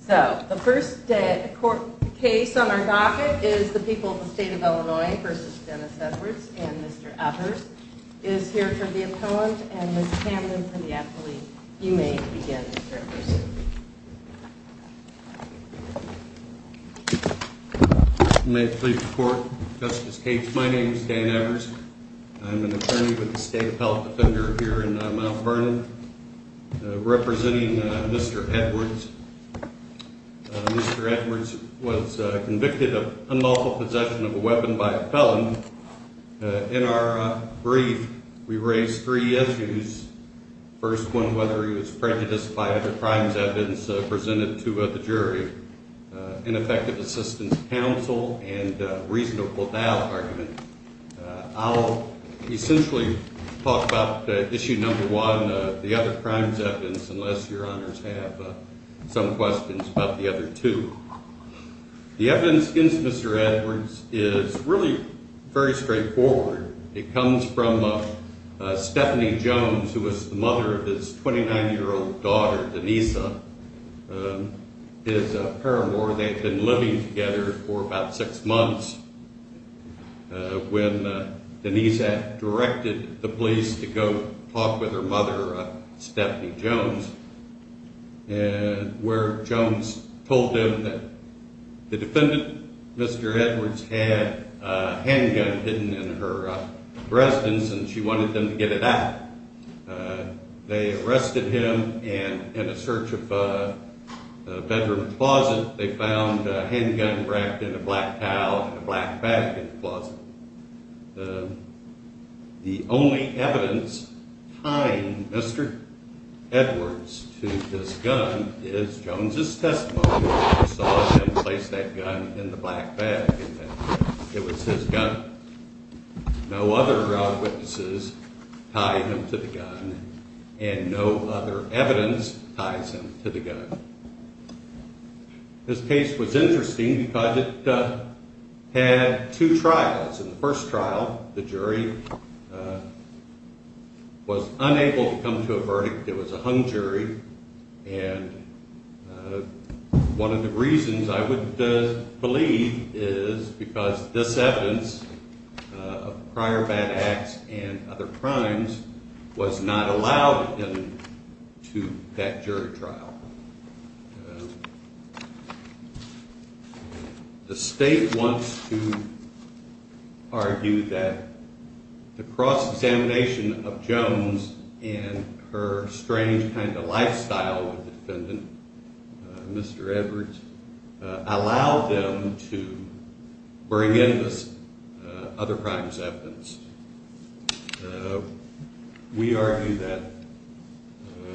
So the first court case on our docket is the people of the state of Illinois v. Dennis Edwards, and Mr. Edwards is here for the appellant, and Mr. Camden for the athlete. You may begin, Mr. Edwards. You may please report, Justice Cates. My name is Dan Edwards. I'm an attorney with the state appellate defender here in Mount Vernon, representing Mr. Edwards. Mr. Edwards was convicted of unlawful possession of a weapon by a felon. In our brief, we raised three issues. First one, whether he was prejudiced by other crimes evidence presented to the jury. An effective assistance counsel, and a reasonable doubt argument. I'll essentially talk about issue number one, the other crimes evidence, unless your honors have some questions about the other two. The evidence against Mr. Edwards is really very straightforward. It comes from Stephanie Jones, who was the mother of his 29-year-old daughter, Denise, his paramour. They had been living together for about six months when Denise directed the police to go talk with her mother, Stephanie Jones, where Jones told them that the defendant, Mr. Edwards, had a handgun hidden in her residence and she wanted them to get it out. They arrested him and in a search of a bedroom closet, they found a handgun wrapped in a black towel and a black bag in the closet. The only evidence tying Mr. Edwards to this gun is Jones' testimony. We saw him place that gun in the black bag and it was his gun. No other witnesses tie him to the gun and no other evidence ties him to the gun. This case was interesting because it had two trials. In the first trial, the jury was unable to come to a verdict. It was a hung jury and one of the reasons I would believe is because this evidence of prior bad acts and other crimes was not allowed into that jury trial. The state wants to argue that the cross-examination of Jones and her strange kind of lifestyle with the defendant, Mr. Edwards, allowed them to bring in this other crimes evidence. We argue that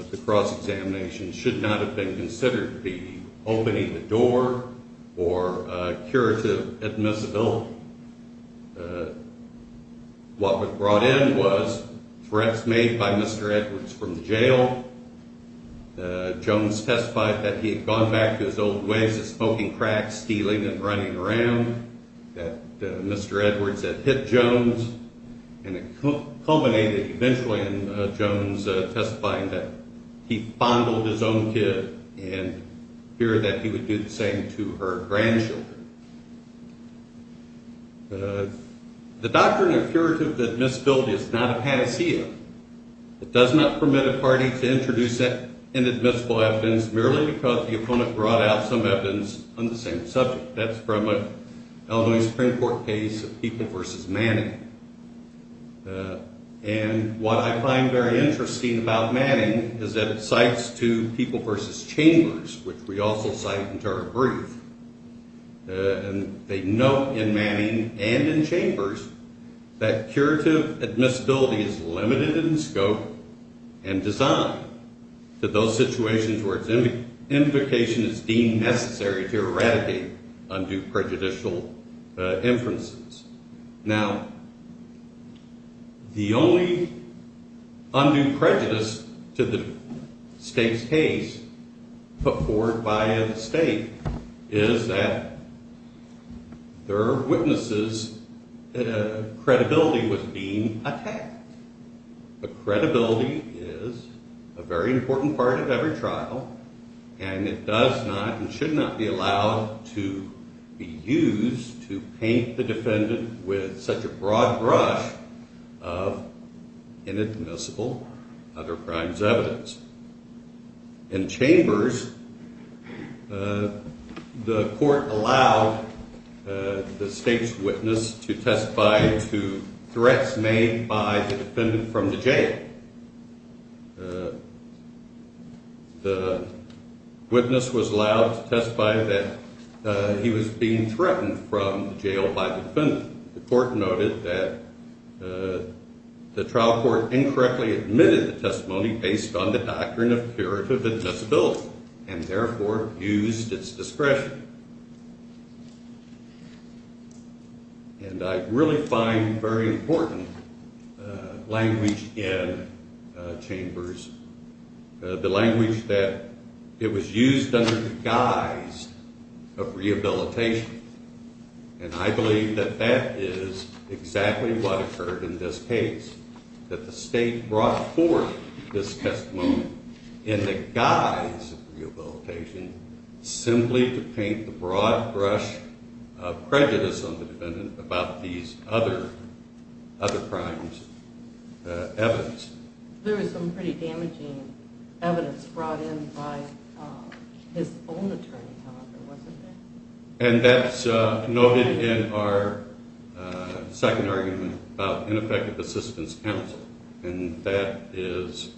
the cross-examination should not have been considered the opening the door or curative admissibility. What was brought in was threats made by Mr. Edwards from the jail. Jones testified that he had gone back to his old ways of smoking crack, stealing and running around, that Mr. Edwards had hit Jones. It culminated eventually in Jones testifying that he fondled his own kid in fear that he would do the same to her grandchildren. The doctrine of curative admissibility is not a panacea. It does not permit a party to introduce inadmissible evidence merely because the opponent brought out some evidence on the same subject. That's from an Illinois Supreme Court case of People v. Manning and what I find very interesting about Manning is that it cites to People v. Chambers, which we also cite in our brief. They note in Manning and in Chambers that curative admissibility is limited in scope and design to those situations where its invocation is deemed necessary to eradicate undue prejudicial inferences. Now, the only undue prejudice to the state's case put forward by the state is that there are witnesses that credibility was being attacked. But credibility is a very important part of every trial and it does not and should not be allowed to be used to paint the defendant with such a broad brush of inadmissible other crimes evidence. In Chambers, the court allowed the state's witness to testify to threats made by the defendant from the jail. The witness was allowed to testify that he was being threatened from the jail by the defendant. The court noted that the trial court incorrectly admitted the testimony based on the doctrine of curative admissibility and therefore used its discretion. And I really find very important language in Chambers, the language that it was used under the guise of rehabilitation. And I believe that that is exactly what occurred in this case, that the state brought forth this testimony in the guise of rehabilitation simply to paint the broad brush of prejudice on the defendant about these other crimes evidence. There was some pretty damaging evidence brought in by his own attorney, however, wasn't there? And that's noted in our second argument about ineffective assistance counsel. And that is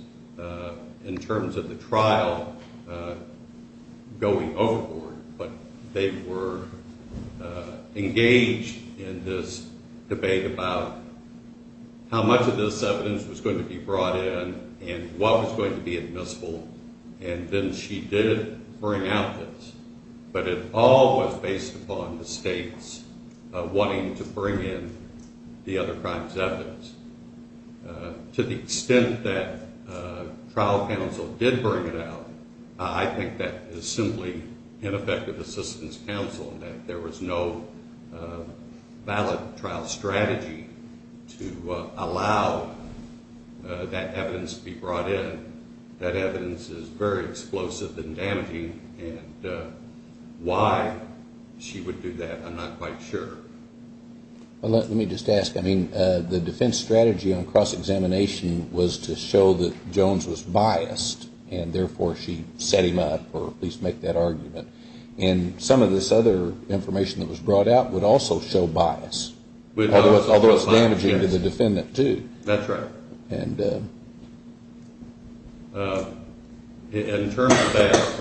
in terms of the trial going overboard, but they were engaged in this debate about how much of this evidence was going to be brought in and what was going to be admissible. And then she did bring out this, but it all was based upon the state's wanting to bring in the other crimes evidence. To the extent that trial counsel did bring it out, I think that is simply ineffective assistance counsel and that there was no valid trial strategy to allow that evidence be brought in. That evidence is very explosive and damaging and why she would do that, I'm not quite sure. Let me just ask, the defense strategy on cross-examination was to show that Jones was biased and therefore she set him up, or at least make that argument. And some of this other information that was brought out would also show bias, although it's damaging to the defendant too. That's right. And in terms of that,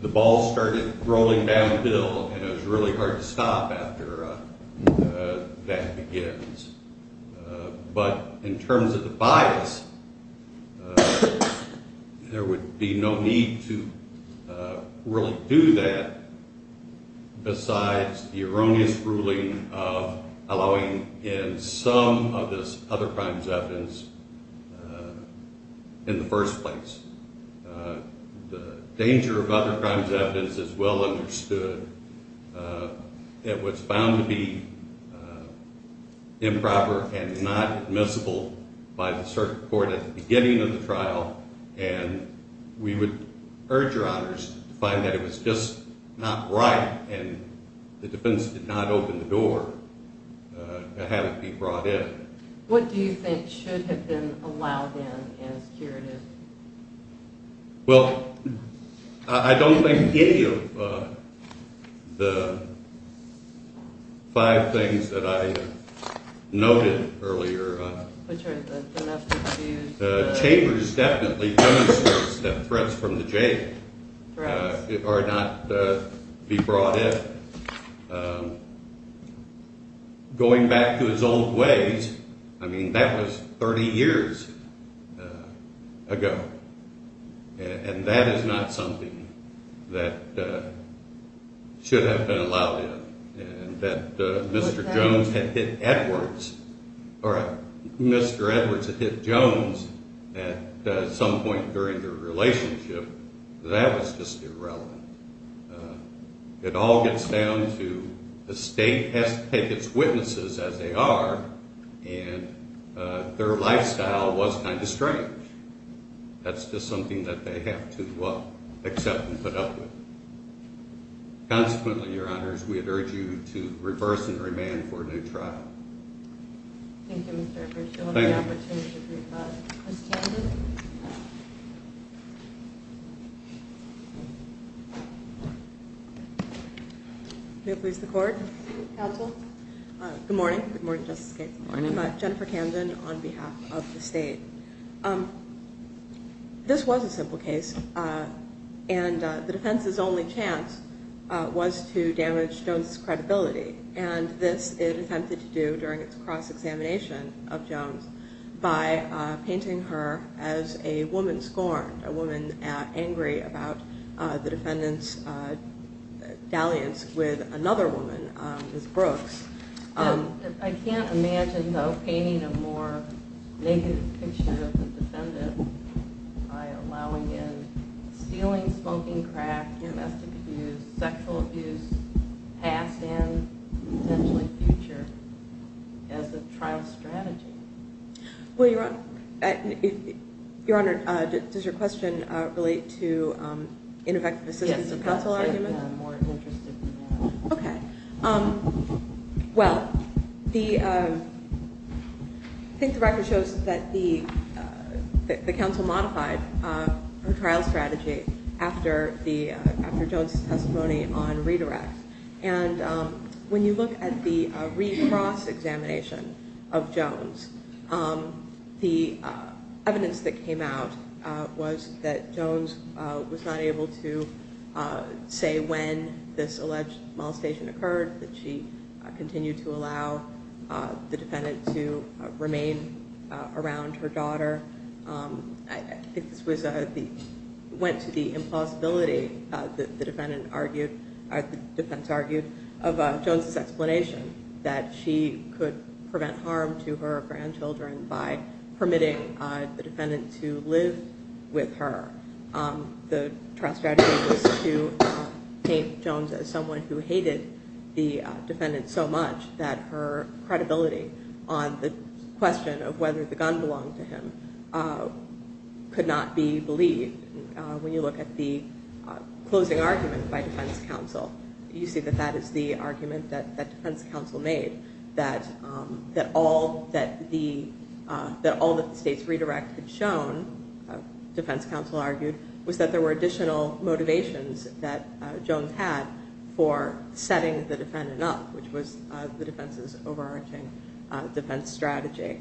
the ball started rolling down the hill and it was really hard to stop after that begins. But in terms of the bias, there would be no need to really do that besides the erroneous ruling of allowing in some of this other crimes evidence in the first place. The danger of other crimes evidence is well understood. It was found to be improper and not admissible by the circuit court at the beginning of the trial. And we would urge your honors to find that it was just not right and the defense did not open the door to have it be brought in. What do you think should have been allowed in as curative? Well, I don't think any of the five things that I noted earlier. Which are the domestic abuse, the… Chambers definitely demonstrates that threats from the jail are not to be brought in. Going back to his old ways, I mean, that was 30 years ago. And that is not something that should have been allowed in. And that Mr. Jones had hit Edwards. Mr. Edwards had hit Jones at some point during their relationship. That was just irrelevant. It all gets down to the state has to take its witnesses as they are. And their lifestyle was kind of strange. That's just something that they have to, well, accept and put up with. Consequently, your honors, we would urge you to reverse and remand for a new trial. Thank you, Mr. Edwards. You'll have the opportunity to do that. Ms. Candid? May it please the court. Counsel. Good morning. Good morning, Justice Gaines. Good morning. I'm Jennifer Candid on behalf of the state. This was a simple case. And the defense's only chance was to damage Jones' credibility. And this it attempted to do during its cross-examination of Jones by painting her as a woman scorned, a woman angry about the defendant's dalliance with another woman, Ms. Brooks. I can't imagine, though, painting a more negative picture of the defendant by allowing in stealing, smoking, crack, domestic abuse, sexual abuse, past and potentially future as a trial strategy. Well, your honor, does your question relate to ineffective assistance of counsel argument? Yes, I'm more interested in that. Okay. Well, I think the record shows that the counsel modified her trial strategy after Jones' testimony on redirect. And when you look at the re-cross-examination of Jones, the evidence that came out was that Jones was not able to say when this alleged molestation occurred, that she continued to allow the defendant to remain around her daughter. I think this went to the impossibility, the defense argued, of Jones' explanation, that she could prevent harm to her grandchildren by permitting the defendant to live with her. The trial strategy was to paint Jones as someone who hated the defendant so much that her credibility on the question of whether the gun belonged to him could not be believed. When you look at the closing argument by defense counsel, you see that that is the argument that defense counsel made, that all that the state's redirect had shown, defense counsel argued, was that there were additional motivations that Jones had for setting the defendant up, which was the defense's overarching defense strategy.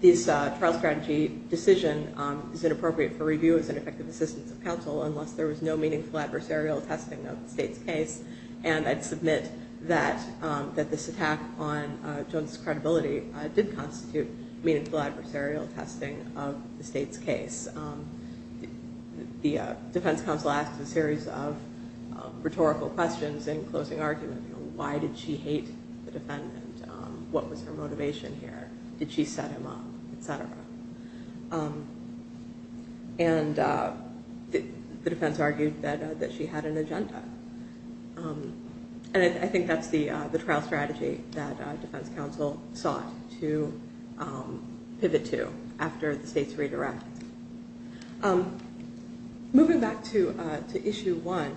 This trial strategy decision is inappropriate for review as an effective assistance of counsel unless there was no meaningful adversarial testing of the state's case. And I'd submit that this attack on Jones' credibility did constitute meaningful adversarial testing of the state's case. The defense counsel asked a series of rhetorical questions in closing argument, why did she hate the defendant, what was her motivation here, did she set him up, etc. And the defense argued that she had an agenda. And I think that's the trial strategy that defense counsel sought to pivot to after the state's redirect. Moving back to issue one,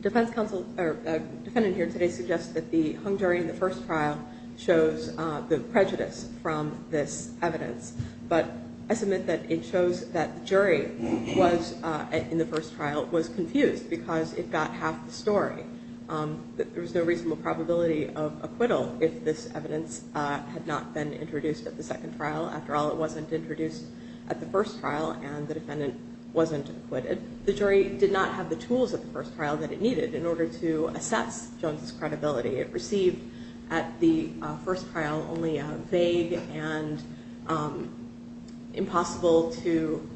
defendant here today suggests that the hung jury in the first trial shows the prejudice from this evidence. But I submit that it shows that the jury in the first trial was confused because it got half the story. There was no reasonable probability of acquittal if this evidence had not been introduced at the second trial. After all, it wasn't introduced at the first trial and the defendant wasn't acquitted. The jury did not have the tools at the first trial that it needed in order to assess Jones' credibility. It received at the first trial only vague and impossible to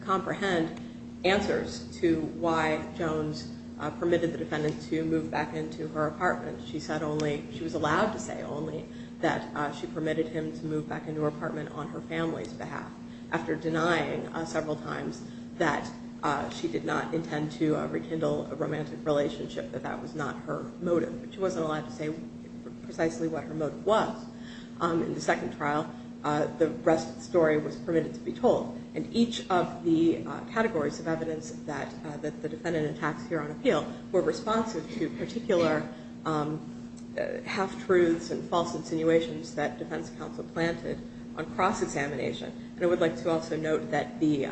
comprehend answers to why Jones permitted the defendant to move back into her apartment. She said only, she was allowed to say only that she permitted him to move back into her apartment on her family's behalf. After denying several times that she did not intend to rekindle a romantic relationship, that that was not her motive. She wasn't allowed to say precisely what her motive was. In the second trial, the rest of the story was permitted to be told. And each of the categories of evidence that the defendant attacks here on appeal were responsive to particular half-truths and false insinuations that defense counsel planted on cross-examination. And I would like to also note that the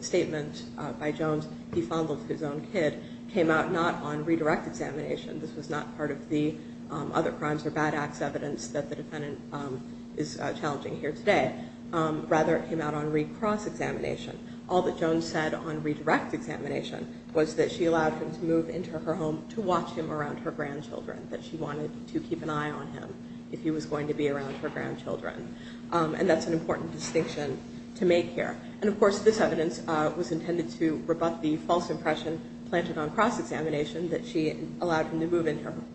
statement by Jones, he fondled his own kid, came out not on redirect examination. This was not part of the other crimes or bad acts evidence that the defendant is challenging here today. Rather, it came out on recross examination. All that Jones said on redirect examination was that she allowed him to move into her home to watch him around her grandchildren. That she wanted to keep an eye on him if he was going to be around her grandchildren. And that's an important distinction to make here. And of course, this evidence was intended to rebut the false impression planted on cross-examination that she allowed him to move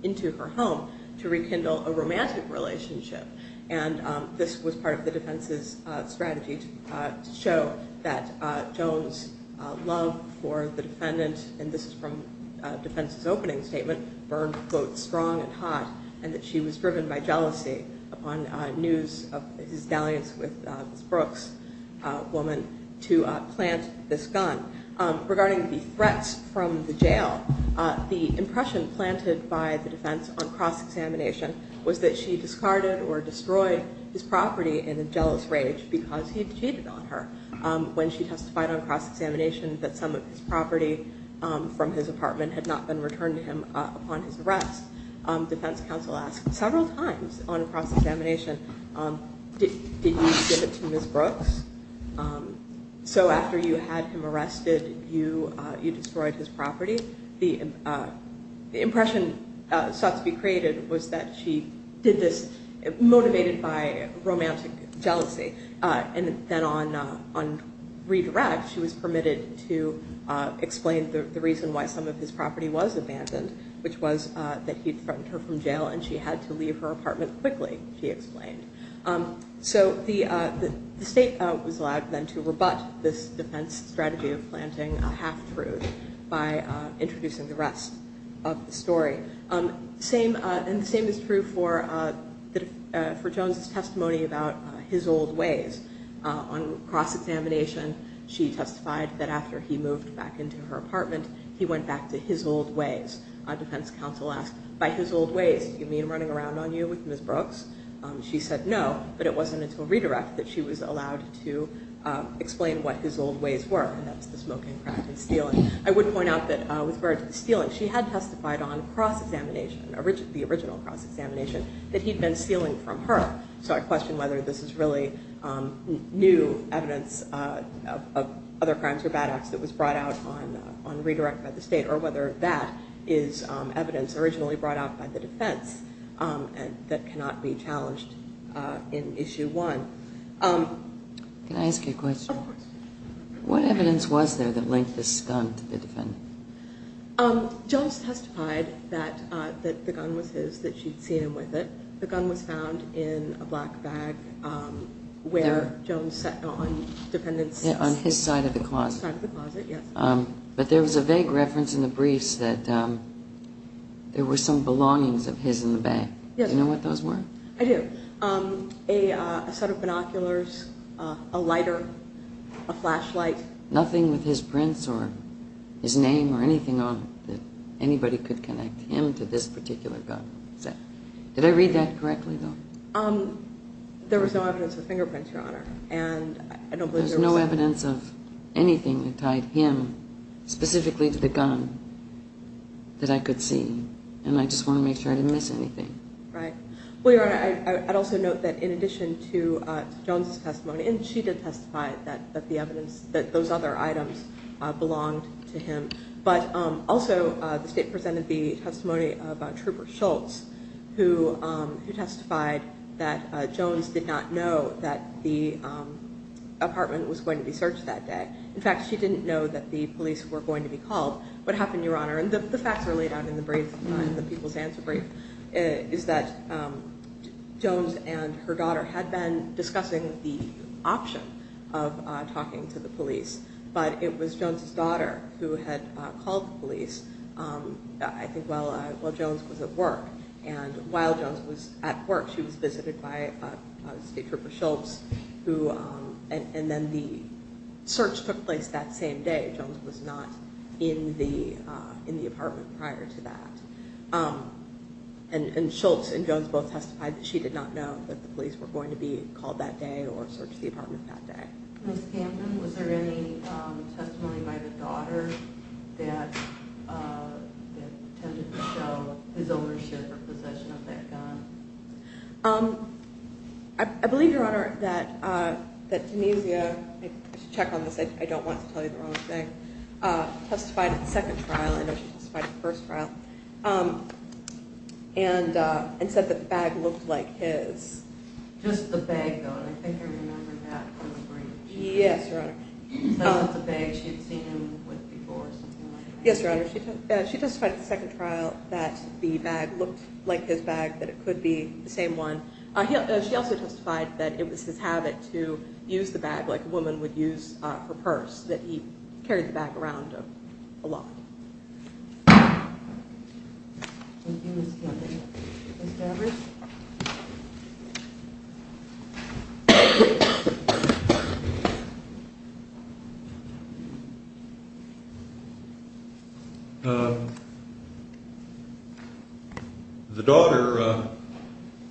into her home to rekindle a romantic relationship. And this was part of the defense's strategy to show that Jones' love for the defendant, and this is from defense's opening statement, burned both strong and hot. And that she was driven by jealousy upon news of his dalliance with Ms. Brooks, a woman, to plant this gun. Regarding the threats from the jail, the impression planted by the defense on cross-examination was that she discarded or destroyed his property in a jealous rage because he had cheated on her. When she testified on cross-examination that some of his property from his apartment had not been returned to him upon his arrest. Defense counsel asked several times on cross-examination, did you give it to Ms. Brooks? So after you had him arrested, you destroyed his property. The impression sought to be created was that she did this motivated by romantic jealousy. And then on redirect, she was permitted to explain the reason why some of his property was abandoned, which was that he threatened her from jail and she had to leave her apartment quickly, she explained. So the state was allowed then to rebut this defense strategy of planting a half-truth by introducing the rest of the story. And the same is true for Jones' testimony about his old ways. On cross-examination, she testified that after he moved back into her apartment, he went back to his old ways. Defense counsel asked, by his old ways, do you mean running around on you with Ms. Brooks? She said no, but it wasn't until redirect that she was allowed to explain what his old ways were, and that's the smoking crack and stealing. I would point out that with regard to the stealing, she had testified on cross-examination, the original cross-examination, that he'd been stealing from her. So I question whether this is really new evidence of other crimes or bad acts that was brought out on redirect by the state, or whether that is evidence originally brought out by the defense that cannot be challenged in Issue 1. Can I ask you a question? Of course. What evidence was there that linked this gun to the defendant? Jones testified that the gun was his, that she'd seen him with it. The gun was found in a black bag where Jones sat on the defendant's side of the closet. But there was a vague reference in the briefs that there were some belongings of his in the bag. Do you know what those were? I do. A set of binoculars, a lighter, a flashlight. Nothing with his prints or his name or anything on it that anybody could connect him to this particular gun. Did I read that correctly, though? There was no evidence of fingerprints, Your Honor. There was no evidence of anything that tied him specifically to the gun that I could see, and I just want to make sure I didn't miss anything. Right. Well, Your Honor, I'd also note that in addition to Jones' testimony, and she did testify that those other items belonged to him, but also the State presented the testimony of Trooper Schultz, who testified that Jones did not know that the apartment was going to be searched that day. In fact, she didn't know that the police were going to be called. What happened, Your Honor? The facts are laid out in the People's Answer Brief is that Jones and her daughter had been discussing the option of talking to the police, but it was Jones' daughter who had called the police, I think, while Jones was at work. And while Jones was at work, she was visited by State Trooper Schultz, and then the search took place that same day. Jones was not in the apartment prior to that. And Schultz and Jones both testified that she did not know that the police were going to be called that day or searched the apartment that day. Ms. Camden, was there any testimony by the daughter that attempted to show his ownership or possession of that gun? I believe, Your Honor, that D'Anesio, I should check on this, I don't want to tell you the wrong thing, testified at the second trial, I know she testified at the first trial, and said that the bag looked like his. Just the bag, though, and I think I remember that from the brief. Yes, Your Honor. Not the bag she had seen him with before or something like that. Yes, Your Honor. She testified at the second trial that the bag looked like his bag, that it could be the same one. She also testified that it was his habit to use the bag like a woman would use her purse, that he carried the bag around a lot. Thank you, Ms. Camden. Mr. Evers? The daughter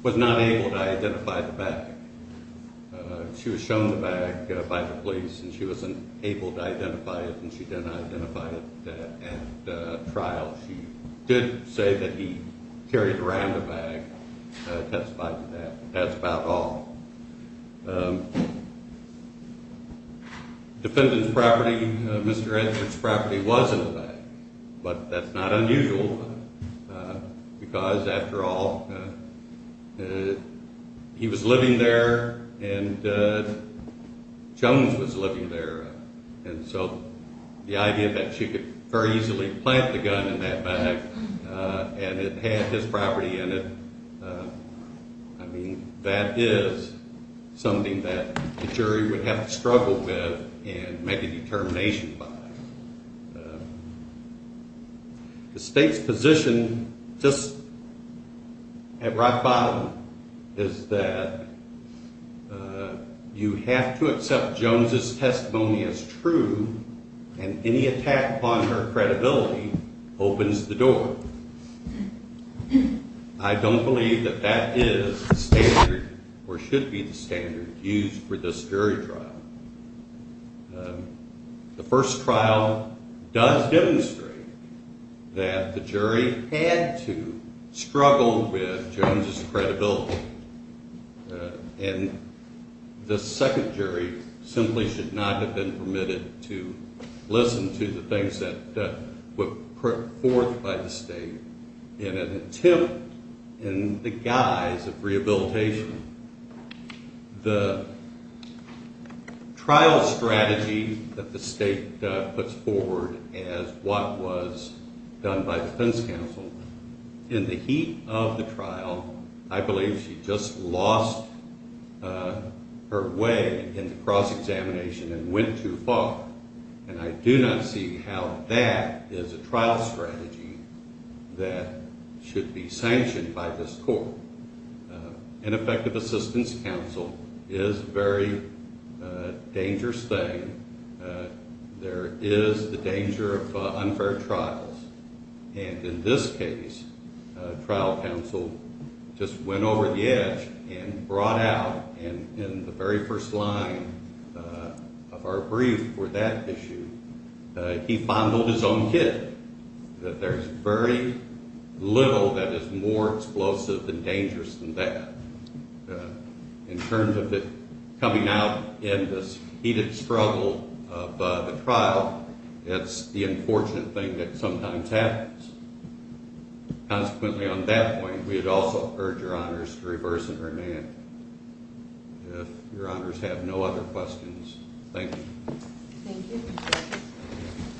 was not able to identify the bag. She was shown the bag by the police, and she was unable to identify it, and she did not identify it at trial. She did say that he carried around the bag, testified to that. That's about all. Defendant's property, Mr. Edwards' property, was in the bag, but that's not unusual, because, after all, he was living there and Jones was living there, and so the idea that she could very easily plant the gun in that bag and it had his property in it, I mean, that is something that a jury would have to struggle with and make a determination by. The State's position, just at rock bottom, is that you have to accept Jones' testimony as true, and any attack upon her credibility opens the door. I don't believe that that is the standard or should be the standard used for this jury trial. The first trial does demonstrate that the jury had to struggle with Jones' credibility, and the second jury simply should not have been permitted to listen to the things that were put forth by the State in an attempt in the guise of rehabilitation. The trial strategy that the State puts forward as what was done by the defense counsel, in the heat of the trial, I believe she just lost her way in the cross-examination and went too far, and I do not see how that is a trial strategy that should be sanctioned by this court. An effective assistance counsel is a very dangerous thing. There is the danger of unfair trials, and in this case, a trial counsel just went over the edge and brought out in the very first line of our brief for that issue, he fondled his own kit, that there's very little that is more explosive and dangerous than that. In terms of it coming out in this heated struggle by the trial, it's the unfortunate thing that sometimes happens. Consequently, on that point, we would also urge Your Honors to reverse and remand. If Your Honors have no other questions, thank you. Thank you.